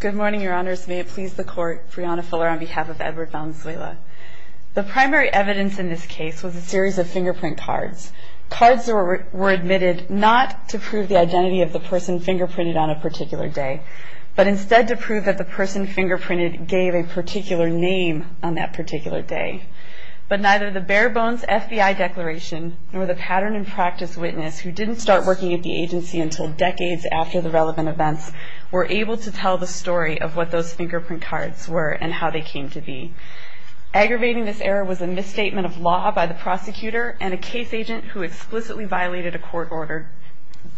Good morning, your honors. May it please the court, Brianna Fuller on behalf of Edward Valenzuela. The primary evidence in this case was a series of fingerprint cards. Cards were admitted not to prove the identity of the person fingerprinted on a particular day, but instead to prove that the person fingerprinted gave a particular name on that particular day. But neither the bare-bones FBI declaration nor the pattern and practice witness, who didn't start working at the agency until decades after the relevant events, were able to tell the story of what those fingerprint cards were and how they came to be. Aggravating this error was a misstatement of law by the prosecutor and a case agent who explicitly violated a court order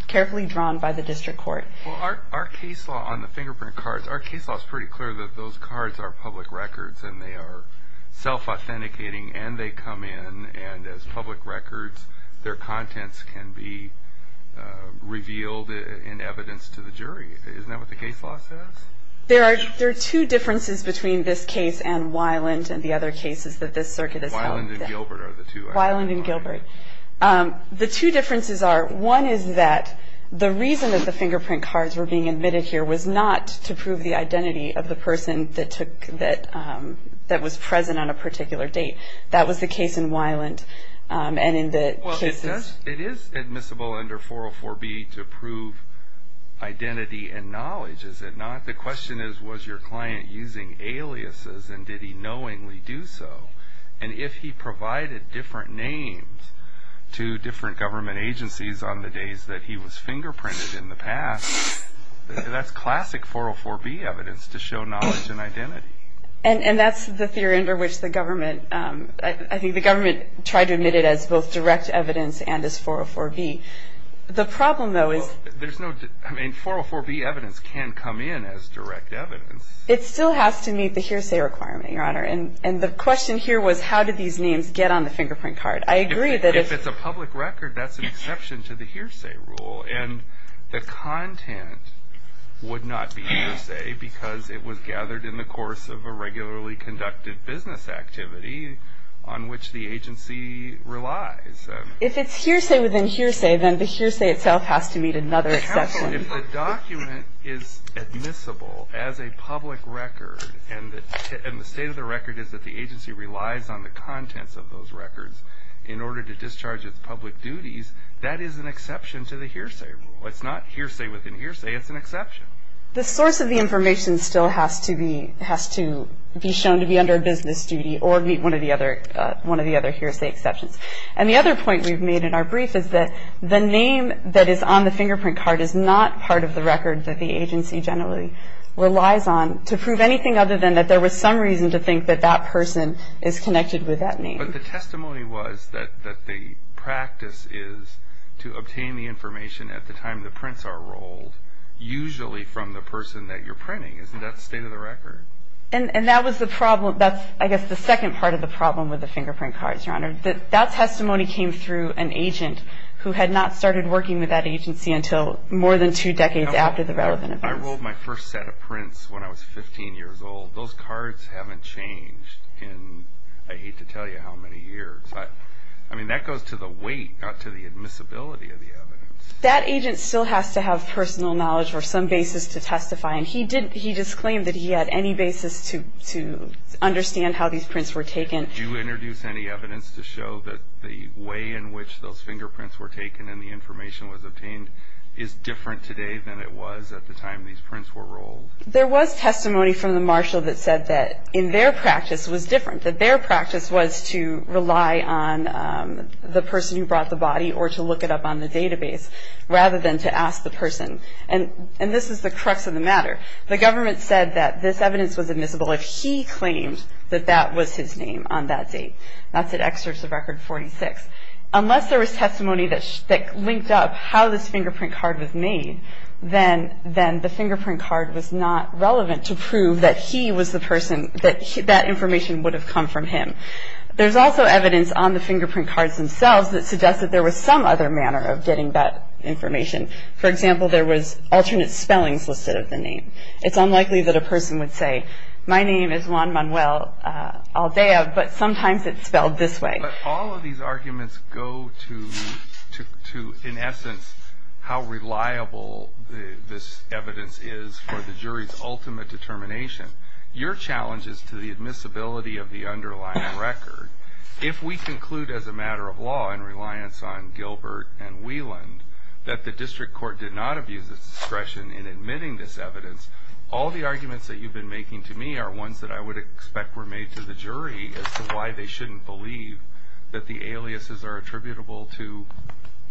carefully drawn by the district court. Our case law on the fingerprint cards, our case law is pretty clear that those cards are public records and they are self-authenticating and they come in and as public records, their contents can be revealed in evidence to the jury. Isn't that what the case law says? There are two differences between this case and Weiland and the other cases that this circuit has held. Weiland and Gilbert are the two. Weiland and Gilbert. The two differences are, one is that the reason that the fingerprint cards were being admitted here was not to prove the identity of the person that was present on a particular date. That was the case in Weiland. It is admissible under 404B to prove identity and knowledge, is it not? The question is, was your client using aliases and did he knowingly do so? And if he provided different names to different government agencies on the days that he was fingerprinted in the past, that's classic 404B evidence to show knowledge and identity. And that's the theory under which the government, I think the government tried to admit it as both direct evidence and as 404B. The problem, though, is... Well, there's no... I mean, 404B evidence can come in as direct evidence. It still has to meet the hearsay requirement, Your Honor. And the question here was, how did these names get on the fingerprint card? I agree that if... If it's a public record, that's an exception to the hearsay rule. And the content would not be hearsay because it was gathered in the course of a regularly conducted business activity on which the agency relies. If it's hearsay within hearsay, then the hearsay itself has to meet another exception. If the document is admissible as a public record and the state of the record is that the agency relies on the contents of those records in order to discharge its public duties, that is an exception to the hearsay rule. It's not hearsay within hearsay, it's an exception. The source of the information still has to be... has to be shown to be under a business duty or meet one of the other hearsay exceptions. And the other point we've made in our brief is that the name that is on the fingerprint card is not part of the record that the agency generally relies on to prove anything other than that there was some reason to think that that person is connected with that name. But the testimony was that the practice is to obtain the information at the time the prints are rolled, usually from the person that you're printing. Isn't that state of the record? And that was the problem... that's, I guess, the second part of the problem with the fingerprint cards, Your Honor. That testimony came through an agent who had not started working with that agency until more than two decades after the relevant events. I rolled my first set of prints when I was 15 years old. Those cards haven't changed in, I hate to tell you how many years. I mean, that goes to the weight, not to the admissibility of the evidence. That agent still has to have personal knowledge or some basis to testify, and he didn't... he just claimed that he had any basis to understand how these prints were taken. Did you introduce any evidence to show that the way in which those fingerprints were taken and the information was obtained is different today than it was at the time these prints were rolled? There was testimony from the marshal that said that in their practice was different, that their practice was to rely on the person who brought the body or to look it up on the database rather than to ask the person. And this is the crux of the matter. The government said that this evidence was admissible if he claimed that that was his name on that date. That's at Excerpts of Record 46. Unless there was testimony that linked up how this fingerprint card was made, then the fingerprint card was not relevant to prove that he was the person, that that information would have come from him. There's also evidence on the fingerprint cards themselves that suggests that there was some other manner of getting that information. For example, there was alternate spellings listed of the name. It's unlikely that a person would say, my name is Juan Manuel Aldea, but sometimes it's spelled this way. But all of these arguments go to, in essence, how reliable this evidence is for the jury's ultimate determination. Your challenge is to the admissibility of the underlying record. If we conclude as a matter of law in reliance on Gilbert and Wieland that the district court did not abuse its discretion in admitting this evidence, all the arguments that you've been making to me are ones that I would expect were made to the jury as to why they shouldn't believe that the aliases are attributable to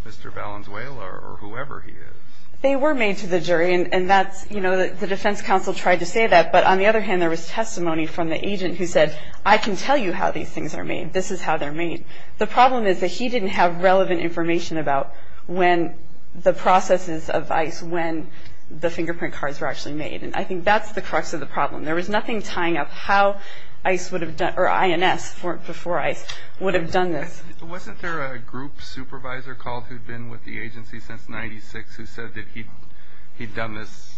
Mr. Valenzuela or whoever he is. They were made to the jury, and that's, you know, the defense counsel tried to say that. But on the other hand, there was testimony from the agent who said, I can tell you how these things are made. This is how they're made. The problem is that he didn't have relevant information about when the processes of ICE, when the fingerprint cards were actually made. And I think that's the crux of the problem. There was nothing tying up how ICE would have done, or INS before ICE, would have done this. Wasn't there a group supervisor called who'd been with the agency since 96 who said that he'd done this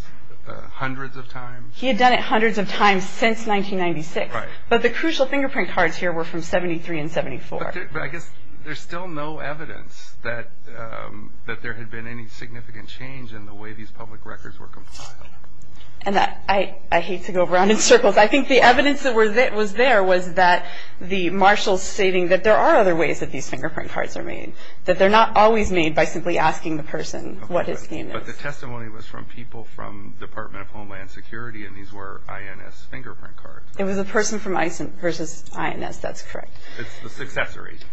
hundreds of times? He had done it hundreds of times since 1996. Right. But the crucial fingerprint cards here were from 73 and 74. But I guess there's still no evidence that there had been any significant change in the way these public records were compiled. And I hate to go around in circles. I think the evidence that was there was that the marshals stating that there are other ways that these fingerprint cards are made, that they're not always made by simply asking the person what his name is. But the testimony was from people from Department of Homeland Security, and these were INS fingerprint cards. It was a person from ICE versus INS. That's correct. It's the successor agency.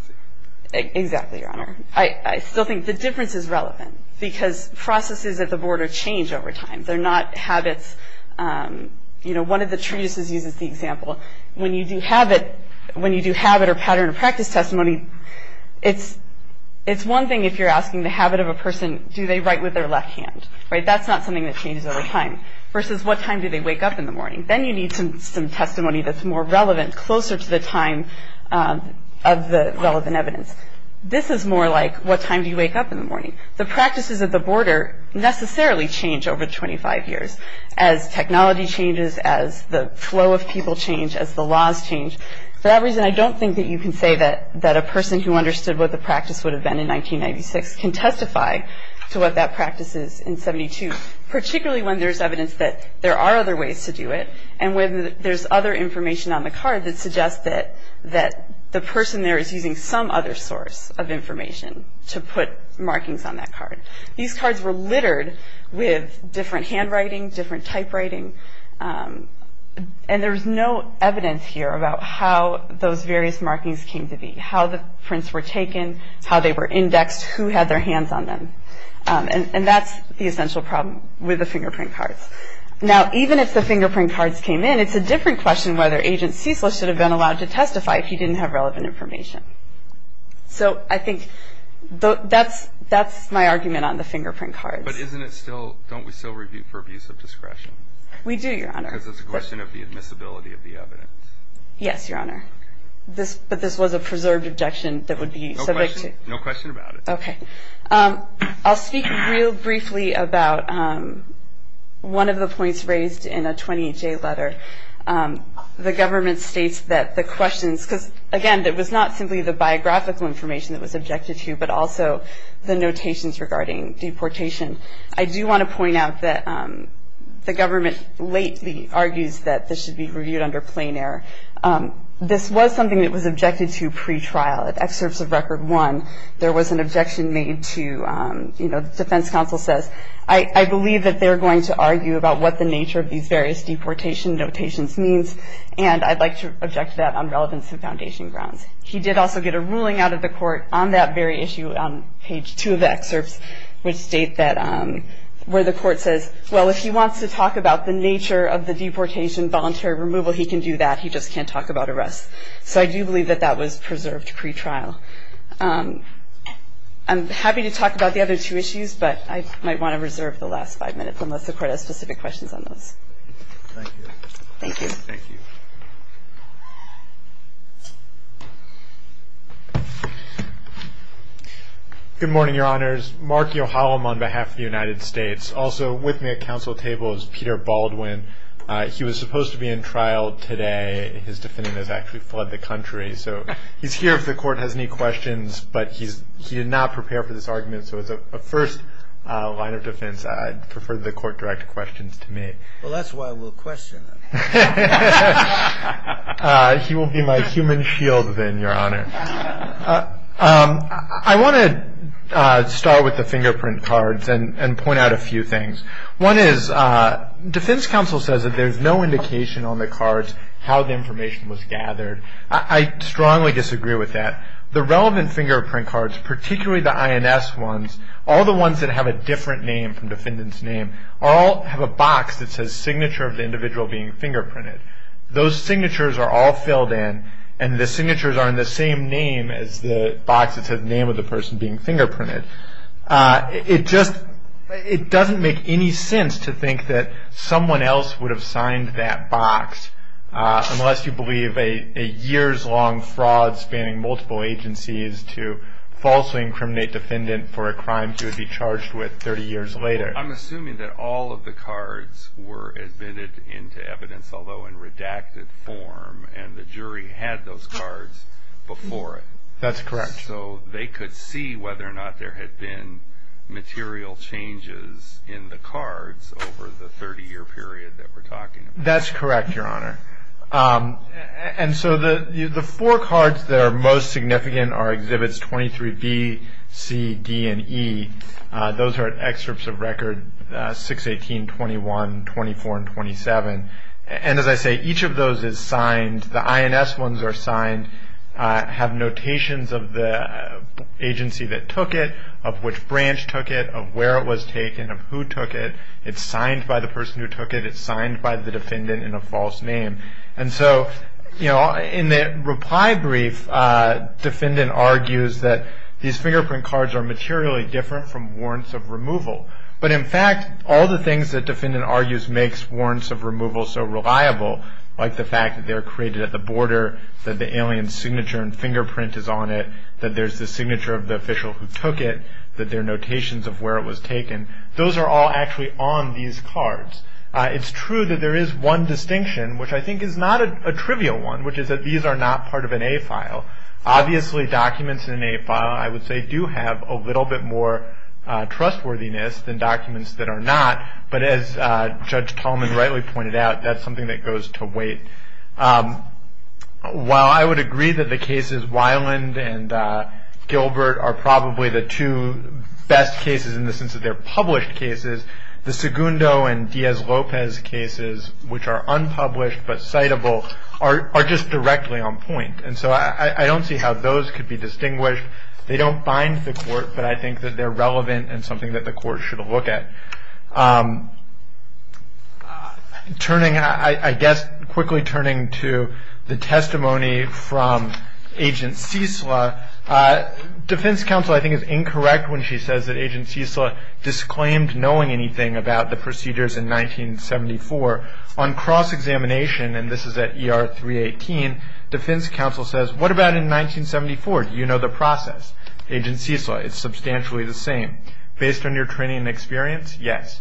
Exactly, Your Honor. I still think the difference is relevant because processes at the border change over time. They're not habits. You know, one of the treatises uses the example. When you do habit or pattern of practice testimony, it's one thing if you're asking the habit of a person, do they write with their left hand? That's not something that changes over time. Versus what time do they wake up in the morning? Then you need some testimony that's more relevant, closer to the time of the relevant evidence. This is more like, what time do you wake up in the morning? The practices at the border necessarily change over 25 years. As technology changes, as the flow of people change, as the laws change. For that reason, I don't think that you can say that a person who understood what the practice would have been in 1996 can testify to what that practice is in 72. Particularly when there's evidence that there are other ways to do it, and when there's other information on the card that suggests that the person there is using some other source of information to put markings on that card. These cards were littered with different handwriting, different typewriting, and there's no evidence here about how those various markings came to be, how the prints were taken, how they were indexed, who had their hands on them. And that's the essential problem with the fingerprint cards. Now, even if the fingerprint cards came in, it's a different question whether Agent Cecil should have been allowed to testify if he didn't have relevant information. So I think that's my argument on the fingerprint cards. But don't we still review for abuse of discretion? We do, Your Honor. Because it's a question of the admissibility of the evidence. Yes, Your Honor. But this was a preserved objection that would be subject to... No question about it. Okay. I'll speak real briefly about one of the points raised in a 28-J letter. The government states that the questions, because, again, it was not simply the biographical information that was objected to, but also the notations regarding deportation. I do want to point out that the government lately argues that this should be reviewed under plain error. This was something that was objected to pretrial. In excerpts of Record 1, there was an objection made to, you know, the defense counsel says, I believe that they're going to argue about what the nature of these various deportation notations means, and I'd like to object to that on relevance and foundation grounds. He did also get a ruling out of the court on that very issue on page 2 of the excerpts, which state that where the court says, well, if he wants to talk about the nature of the deportation voluntary removal, he can do that. He just can't talk about arrests. So I do believe that that was preserved pretrial. I'm happy to talk about the other two issues, but I might want to reserve the last five minutes unless the court has specific questions on those. Thank you. Thank you. Thank you. Good morning, Your Honors. Mark Yohalam on behalf of the United States. Also with me at counsel table is Peter Baldwin. He was supposed to be in trial today. His defendant has actually fled the country. So he's here if the court has any questions, but he did not prepare for this argument. So as a first line of defense, I'd prefer the court direct questions to me. Well, that's why we'll question him. He will be my human shield then, Your Honor. I want to start with the fingerprint cards and point out a few things. One is defense counsel says that there's no indication on the cards how the information was gathered. I strongly disagree with that. The relevant fingerprint cards, particularly the INS ones, all the ones that have a different name from defendant's name, all have a box that says signature of the individual being fingerprinted. Those signatures are all filled in, and the signatures are in the same name as the box that says name of the person being fingerprinted. It just doesn't make any sense to think that someone else would have signed that box unless you believe a years-long fraud spanning multiple agencies to falsely incriminate defendant for a crime he would be charged with 30 years later. I'm assuming that all of the cards were admitted into evidence, although in redacted form, and the jury had those cards before it. That's correct. So they could see whether or not there had been material changes in the cards over the 30-year period that we're talking about. That's correct, Your Honor. And so the four cards that are most significant are Exhibits 23B, C, D, and E. Those are excerpts of Record 618, 21, 24, and 27. And as I say, each of those is signed. And the INS ones are signed, have notations of the agency that took it, of which branch took it, of where it was taken, of who took it. It's signed by the person who took it. It's signed by the defendant in a false name. And so, you know, in the reply brief, defendant argues that these fingerprint cards are materially different from warrants of removal. But in fact, all the things that defendant argues makes warrants of removal so reliable, like the fact that they were created at the border, that the alien's signature and fingerprint is on it, that there's the signature of the official who took it, that there are notations of where it was taken. Those are all actually on these cards. It's true that there is one distinction, which I think is not a trivial one, which is that these are not part of an A file. Obviously, documents in an A file, I would say, do have a little bit more trustworthiness than documents that are not. But as Judge Tallman rightly pointed out, that's something that goes to weight. While I would agree that the cases Weiland and Gilbert are probably the two best cases in the sense that they're published cases, the Segundo and Diaz-Lopez cases, which are unpublished but citable, are just directly on point. And so I don't see how those could be distinguished. They don't bind the court, but I think that they're relevant and something that the court should look at. Turning, I guess, quickly turning to the testimony from Agent Ciesla, defense counsel, I think, is incorrect when she says that Agent Ciesla disclaimed knowing anything about the procedures in 1974. On cross-examination, and this is at ER 318, defense counsel says, what about in 1974, do you know the process? Agent Ciesla, it's substantially the same. Based on your training and experience, yes.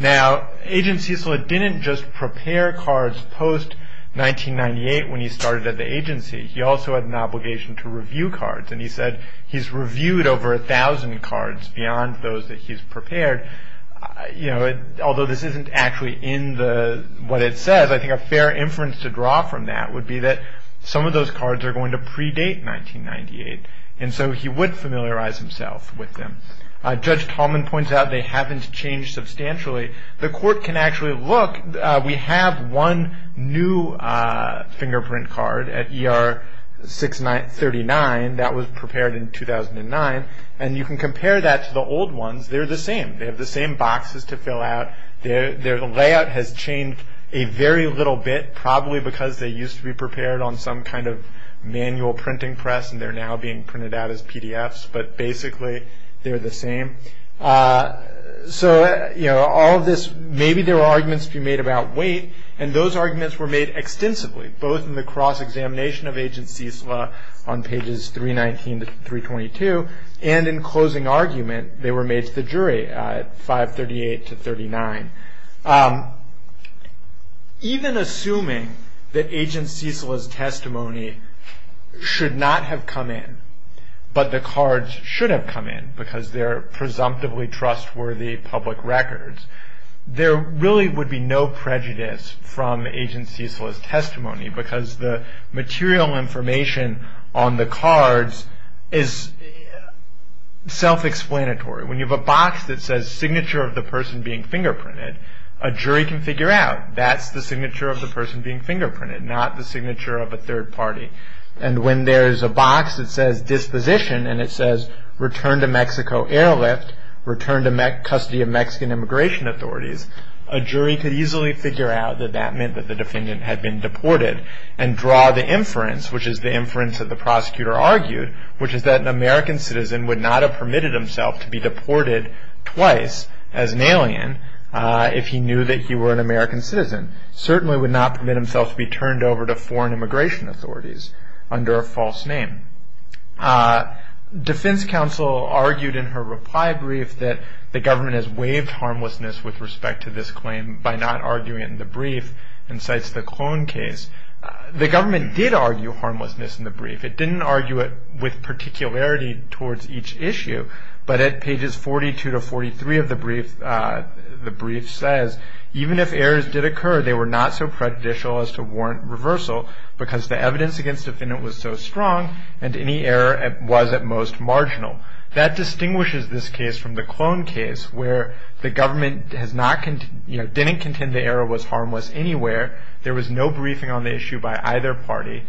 Now, Agent Ciesla didn't just prepare cards post-1998 when he started at the agency. He also had an obligation to review cards, and he said he's reviewed over a thousand cards beyond those that he's prepared. Although this isn't actually in what it says, I think a fair inference to draw from that would be that some of those cards are going to predate 1998, and so he would familiarize himself with them. Judge Tallman points out they haven't changed substantially. The court can actually look. We have one new fingerprint card at ER 639 that was prepared in 2009, and you can compare that to the old ones. They're the same. They have the same boxes to fill out. Their layout has changed a very little bit, probably because they used to be prepared on some kind of manual printing press, and they're now being printed out as PDFs. But basically, they're the same. So, you know, all of this, maybe there were arguments to be made about weight, and those arguments were made extensively, both in the cross-examination of Agent Ciesla on pages 319 to 322, and in closing argument they were made to the jury at 538 to 39. Even assuming that Agent Ciesla's testimony should not have come in, but the cards should have come in, because they're presumptively trustworthy public records, there really would be no prejudice from Agent Ciesla's testimony, because the material information on the cards is self-explanatory. When you have a box that says, Signature of the Person Being Fingerprinted, a jury can figure out that's the signature of the person being fingerprinted, not the signature of a third party. And when there's a box that says, Disposition, and it says, Return to Mexico Airlift, Return to Custody of Mexican Immigration Authorities, a jury could easily figure out that that meant that the defendant had been deported, and draw the inference, which is the inference that the prosecutor argued, which is that an American citizen would not have permitted himself to be deported twice as an alien, if he knew that he were an American citizen. Certainly would not permit himself to be turned over to foreign immigration authorities under a false name. Defense counsel argued in her reply brief that the government has waived harmlessness with respect to this claim by not arguing it in the brief, and cites the clone case. The government did argue harmlessness in the brief. It didn't argue it with particularity towards each issue, but at pages 42 to 43 of the brief, the brief says, Even if errors did occur, they were not so prejudicial as to warrant reversal, because the evidence against the defendant was so strong, and any error was at most marginal. That distinguishes this case from the clone case, where the government didn't contend the error was harmless anywhere, there was no briefing on the issue by either party,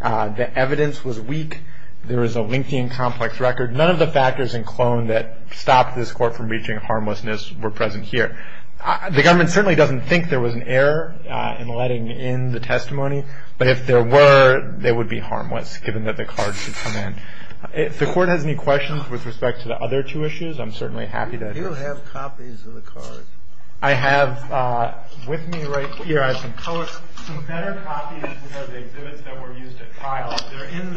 the evidence was weak, there was a lengthy and complex record, none of the factors in clone that stopped this court from reaching harmlessness were present here. The government certainly doesn't think there was an error in letting in the testimony, but if there were, they would be harmless, given that the card should come in. If the court has any questions with respect to the other two issues, I'm certainly happy to address them. Do you have copies of the card? I have with me right here, I have some better copies of the exhibits that were used at trial. They're in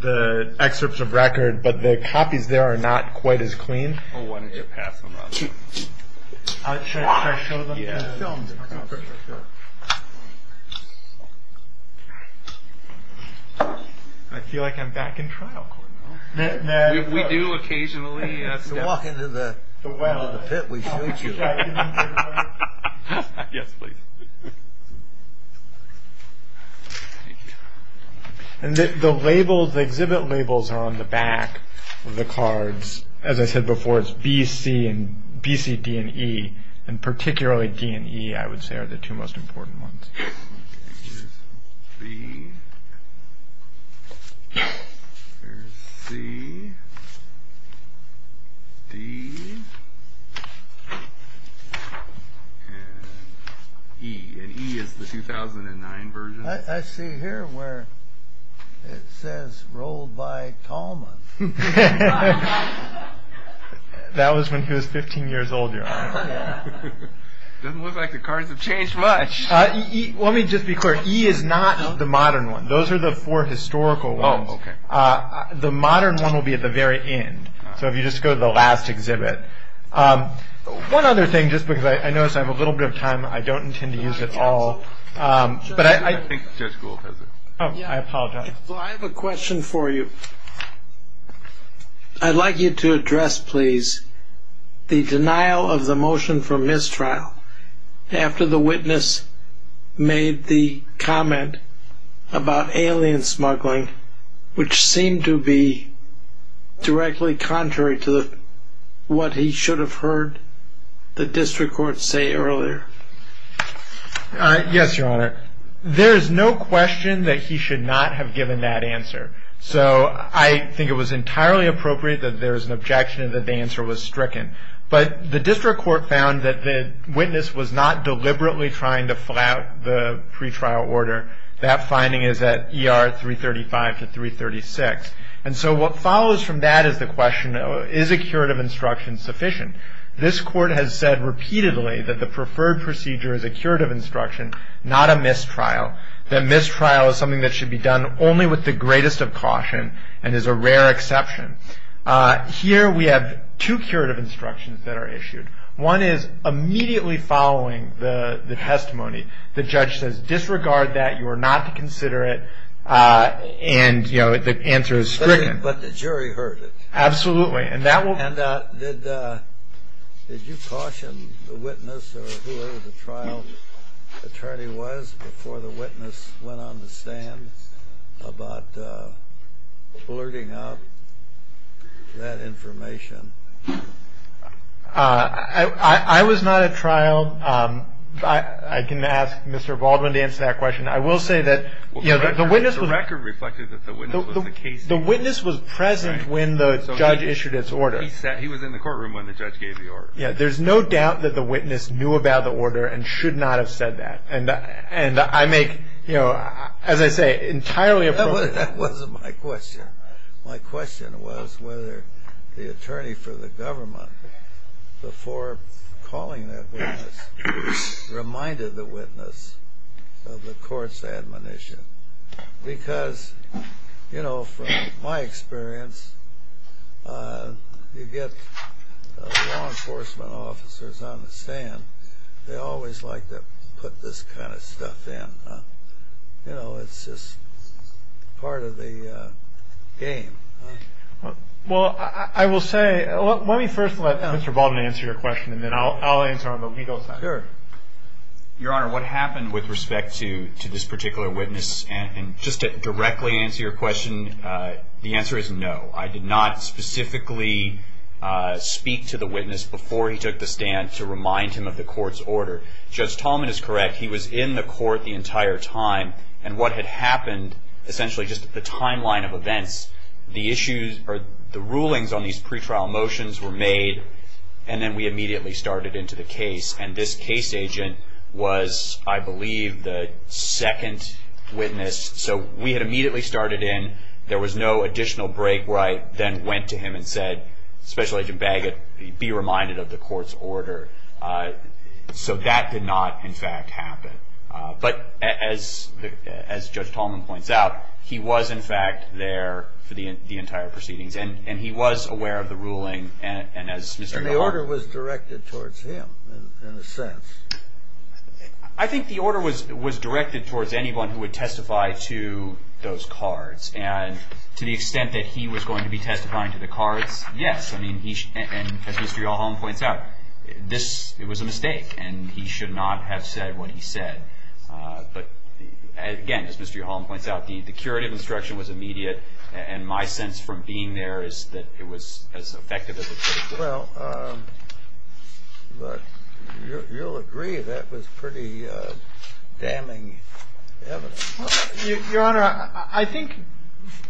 the excerpts of record, but the copies there are not quite as clean. Why don't you pass them on? Should I show them to the film? I feel like I'm back in trial, We do occasionally step into the pit we shoot you. Yes, please. The exhibit labels are on the back of the cards. As I said before, it's B, C, D, and E, and particularly D and E I would say are the two most important ones. Here's B. Here's C. D. And E. And E is the 2009 version. I see here where it says rolled by Tallman. That was when he was 15 years old, Your Honor. Doesn't look like the cards have changed much. Let me just be clear. E is not the modern one. Those are the four historical ones. The modern one will be at the very end. So if you just go to the last exhibit. One other thing, just because I notice I have a little bit of time. I don't intend to use it all. I think Judge Gould has it. I apologize. I have a question for you. I'd like you to address, please, the denial of the motion for mistrial after the witness made the comment about alien smuggling, which seemed to be directly contrary to what he should have heard the district court say earlier. Yes, Your Honor. There is no question that he should not have given that answer. So I think it was entirely appropriate that there was an objection and that the answer was stricken. But the district court found that the witness was not deliberately trying to flout the pretrial order. That finding is at ER 335 to 336. And so what follows from that is the question, is a curative instruction sufficient? This court has said repeatedly that the preferred procedure is a curative instruction, not a mistrial. The mistrial is something that should be done only with the greatest of caution and is a rare exception. Here we have two curative instructions that are issued. One is immediately following the testimony, the judge says disregard that, you are not to consider it, and the answer is stricken. But the jury heard it. Absolutely. Did you caution the witness or whoever the trial attorney was before the witness went on the stand about blurting out that information? I was not at trial. I can ask Mr. Baldwin to answer that question. I will say that the witness was present when the judge issued its order. He was in the courtroom when the judge gave the order. There's no doubt that the witness knew about the order and should not have said that. And I make, as I say, entirely appropriate. That wasn't my question. My question was whether the attorney for the government, before calling that witness, reminded the witness of the court's admonition. Because, you know, from my experience, you get law enforcement officers on the stand, they always like to put this kind of stuff in. You know, it's just part of the game. Well, I will say, let me first let Mr. Baldwin answer your question and then I'll answer on the legal side. Sure. Your Honor, what happened with respect to this particular witness? And just to directly answer your question, the answer is no. I did not specifically speak to the witness before he took the stand to remind him of the court's order. Judge Tallman is correct. He was in the court the entire time. And what had happened, essentially just the timeline of events, the rulings on these pretrial motions were made and then we immediately started into the case. And this case agent was, I believe, the second witness. So we had immediately started in. There was no additional break right. Then went to him and said, Special Agent Bagot, be reminded of the court's order. So that did not, in fact, happen. But as Judge Tallman points out, he was, in fact, there for the entire proceedings. And he was aware of the ruling. And the order was directed towards him, in a sense. I think the order was directed towards anyone who would testify to those cards. And to the extent that he was going to be testifying to the cards, yes. And as Mr. Yallholm points out, it was a mistake. And he should not have said what he said. But, again, as Mr. Yallholm points out, the curative instruction was immediate. And my sense from being there is that it was as effective as it could have been. Well, you'll agree that was pretty damning evidence. Your Honor, I think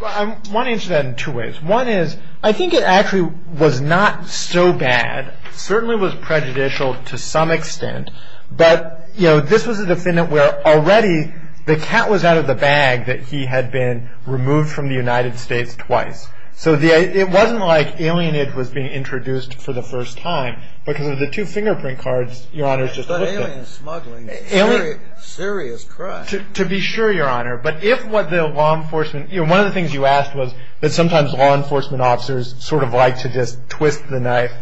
I want to answer that in two ways. One is, I think it actually was not so bad. It certainly was prejudicial to some extent. But, you know, this was a defendant where already the cat was out of the bag that he had been removed from the United States twice. So it wasn't like alienage was being introduced for the first time. Because of the two fingerprint cards, Your Honor, just looked at. But alien smuggling is serious crime. To be sure, Your Honor. One of the things you asked was that sometimes law enforcement officers sort of like to just twist the knife.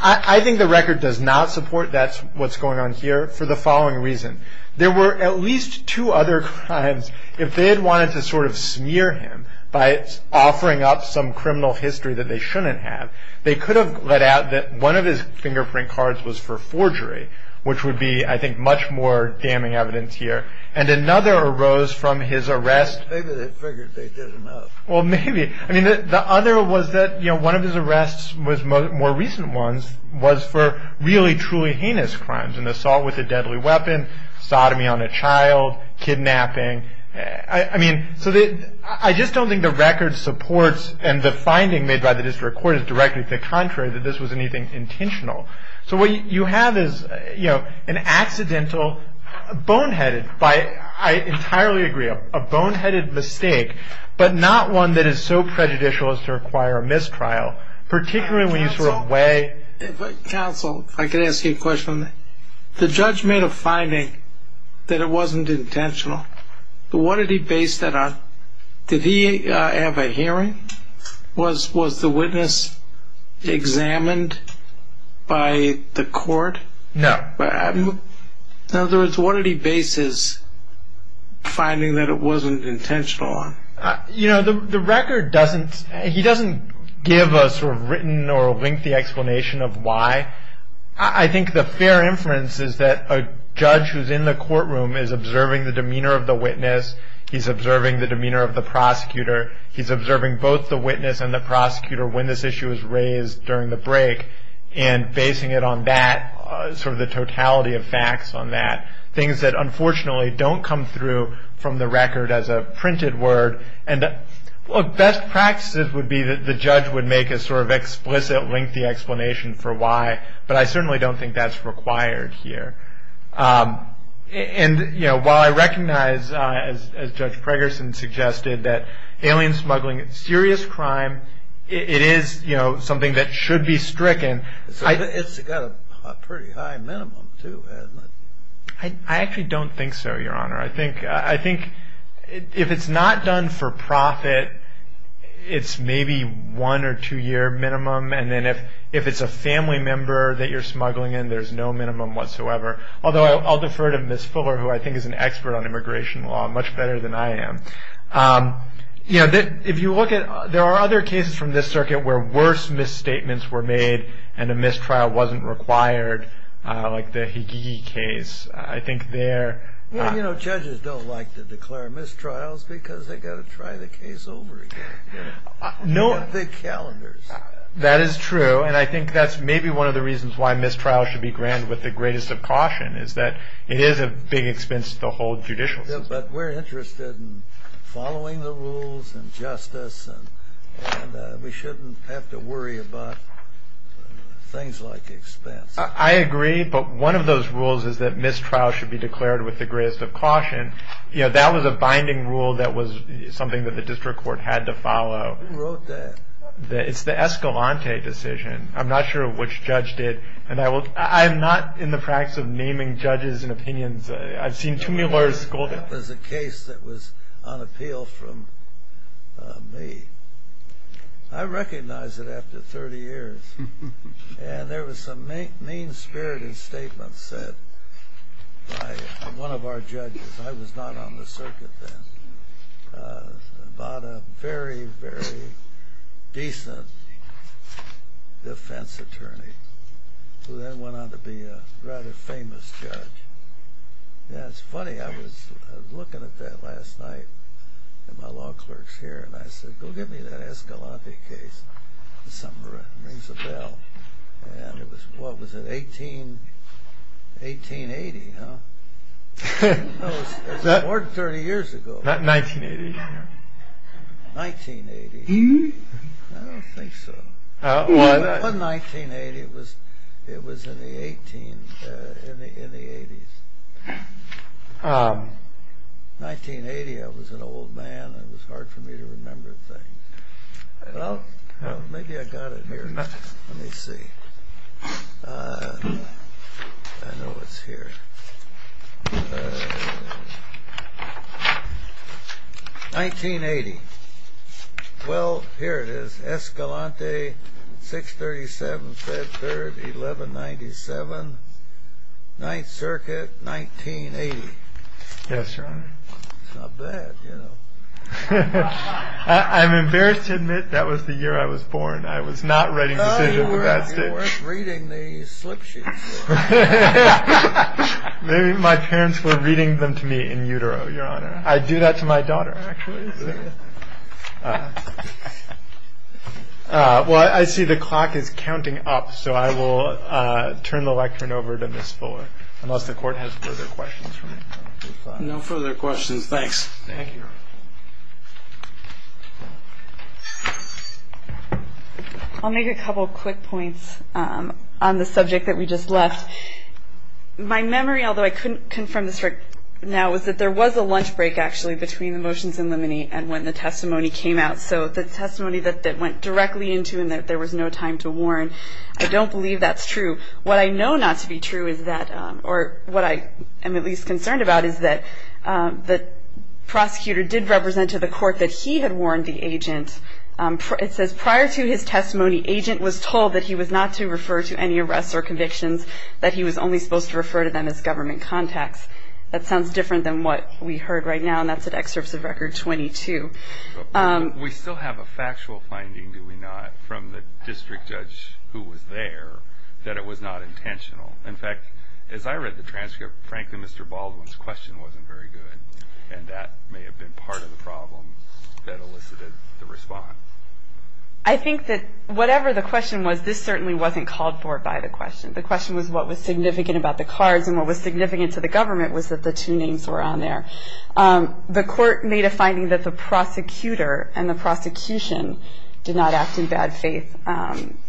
I think the record does not support that's what's going on here for the following reason. There were at least two other crimes. If they had wanted to sort of smear him by offering up some criminal history that they shouldn't have, they could have let out that one of his fingerprint cards was for forgery, which would be, I think, much more damning evidence here. And another arose from his arrest. Maybe they figured they did enough. Well, maybe. I mean, the other was that, you know, one of his arrests was more recent ones, was for really truly heinous crimes, an assault with a deadly weapon, sodomy on a child, kidnapping. I mean, so I just don't think the record supports and the finding made by the district court is directly the contrary, that this was anything intentional. So what you have is, you know, an accidental boneheaded by, I entirely agree, a boneheaded mistake, but not one that is so prejudicial as to require a mistrial, particularly when you sort of weigh. Counsel, if I could ask you a question. The judge made a finding that it wasn't intentional. But what did he base that on? Did he have a hearing? Was the witness examined by the court? No. In other words, what did he base his finding that it wasn't intentional on? You know, the record doesn't, he doesn't give a sort of written or lengthy explanation of why. I think the fair inference is that a judge who's in the courtroom is observing the demeanor of the witness. He's observing the demeanor of the prosecutor. He's observing both the witness and the prosecutor when this issue was raised during the break and basing it on that, sort of the totality of facts on that, things that unfortunately don't come through from the record as a printed word. And, well, best practices would be that the judge would make a sort of explicit lengthy explanation for why, but I certainly don't think that's required here. And, you know, while I recognize, as Judge Preggerson suggested, that alien smuggling is a serious crime, it is, you know, something that should be stricken. So it's got a pretty high minimum, too, hasn't it? I actually don't think so, Your Honor. I think if it's not done for profit, it's maybe one or two year minimum. And then if it's a family member that you're smuggling in, there's no minimum whatsoever. Although I'll defer to Ms. Fuller, who I think is an expert on immigration law much better than I am. You know, if you look at – there are other cases from this circuit where worse misstatements were made and a mistrial wasn't required, like the Higigi case. I think there – Well, you know, judges don't like to declare mistrials because they've got to try the case over again. You know, the calendars. That is true. And I think that's maybe one of the reasons why mistrials should be granted with the greatest of caution, is that it is a big expense to the whole judicial system. But we're interested in following the rules and justice, and we shouldn't have to worry about things like expense. I agree, but one of those rules is that mistrials should be declared with the greatest of caution. You know, that was a binding rule that was something that the district court had to follow. Who wrote that? It's the Escalante decision. I'm not sure which judge did. And I will – I'm not in the practice of naming judges and opinions. I've seen too many lawyers – That was a case that was on appeal from me. I recognized it after 30 years. And there was some mean-spirited statements said by one of our judges – a decent defense attorney who then went on to be a rather famous judge. Yeah, it's funny. I was looking at that last night at my law clerks here, and I said, go get me that Escalante case. Something rings a bell. And it was – what was it? 1880, huh? No, it was more than 30 years ago. 1980. 1980. I don't think so. It wasn't 1980. It was in the 18 – in the 80s. 1980, I was an old man. It was hard for me to remember things. Well, maybe I got it here. Let me see. I know it's here. 1980. Well, here it is. Escalante, 637 Fed Third, 1197. Ninth Circuit, 1980. Yes, Your Honor. It's not bad, you know. I'm embarrassed to admit that was the year I was born. I was not writing decisions at that stage. You weren't reading the slip sheets. Maybe my parents were reading them to me in utero, Your Honor. I do that to my daughter, actually. Well, I see the clock is counting up, so I will turn the lectern over to Ms. Fuller, unless the Court has further questions for me. No further questions. Thanks. Thank you. I'll make a couple quick points on the subject that we just left. My memory, although I couldn't confirm this right now, was that there was a lunch break, actually, between the motions in limine and when the testimony came out. So the testimony that went directly into and that there was no time to warn, I don't believe that's true. What I know not to be true is that, or what I am at least concerned about, is that the prosecutor did represent to the Court that he had warned the agent. It says, prior to his testimony, the agent was told that he was not to refer to any arrests or convictions, that he was only supposed to refer to them as government contacts. That sounds different than what we heard right now, and that's at Excerpts of Record 22. We still have a factual finding, do we not, from the district judge who was there, that it was not intentional. In fact, as I read the transcript, frankly, Mr. Baldwin's question wasn't very good, and that may have been part of the problem that elicited the response. I think that whatever the question was, this certainly wasn't called for by the question. The question was what was significant about the cards and what was significant to the government was that the two names were on there. The Court made a finding that the prosecutor and the prosecution did not act in bad faith.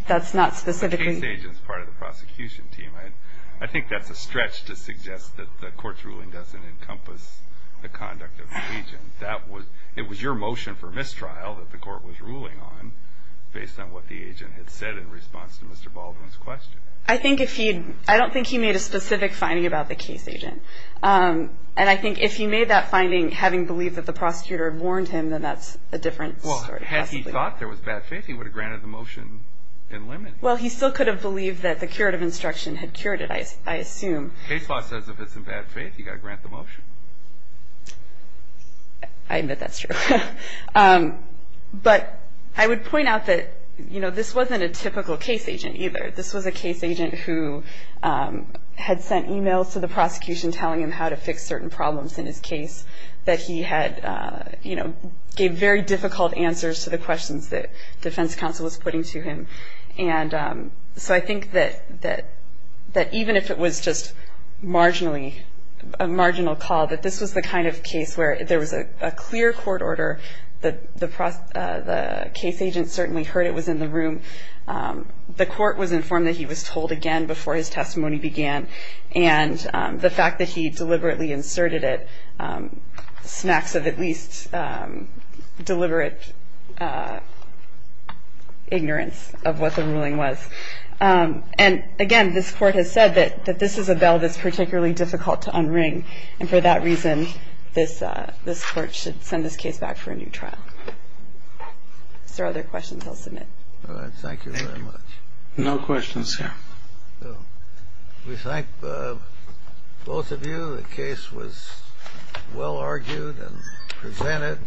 That's not specifically... The case agent is part of the prosecution team. I think that's a stretch to suggest that the Court's ruling doesn't encompass the conduct of the agent. It was your motion for mistrial that the Court was ruling on based on what the agent had said in response to Mr. Baldwin's question. I don't think he made a specific finding about the case agent, and I think if he made that finding having believed that the prosecutor had warned him, then that's a different story. Had he thought there was bad faith, he would have granted the motion and limited it. Well, he still could have believed that the curative instruction had cured it, I assume. Case law says if it's in bad faith, you've got to grant the motion. I admit that's true. But I would point out that this wasn't a typical case agent either. This was a case agent who had sent e-mails to the prosecution telling him how to fix certain problems in his case, that he gave very difficult answers to the questions that Defense Counsel was putting to him. So I think that even if it was just a marginal call, that this was the kind of case where there was a clear court order, the case agent certainly heard it was in the room, the Court was informed that he was told again before his testimony began, and the fact that he deliberately inserted it was a deliberate ignorance of what the ruling was. And again, this Court has said that this is a bell that's particularly difficult to unring, and for that reason, this Court should send this case back for a new trial. Is there other questions I'll submit? No questions, sir. We thank both of you. The case was well argued and presented.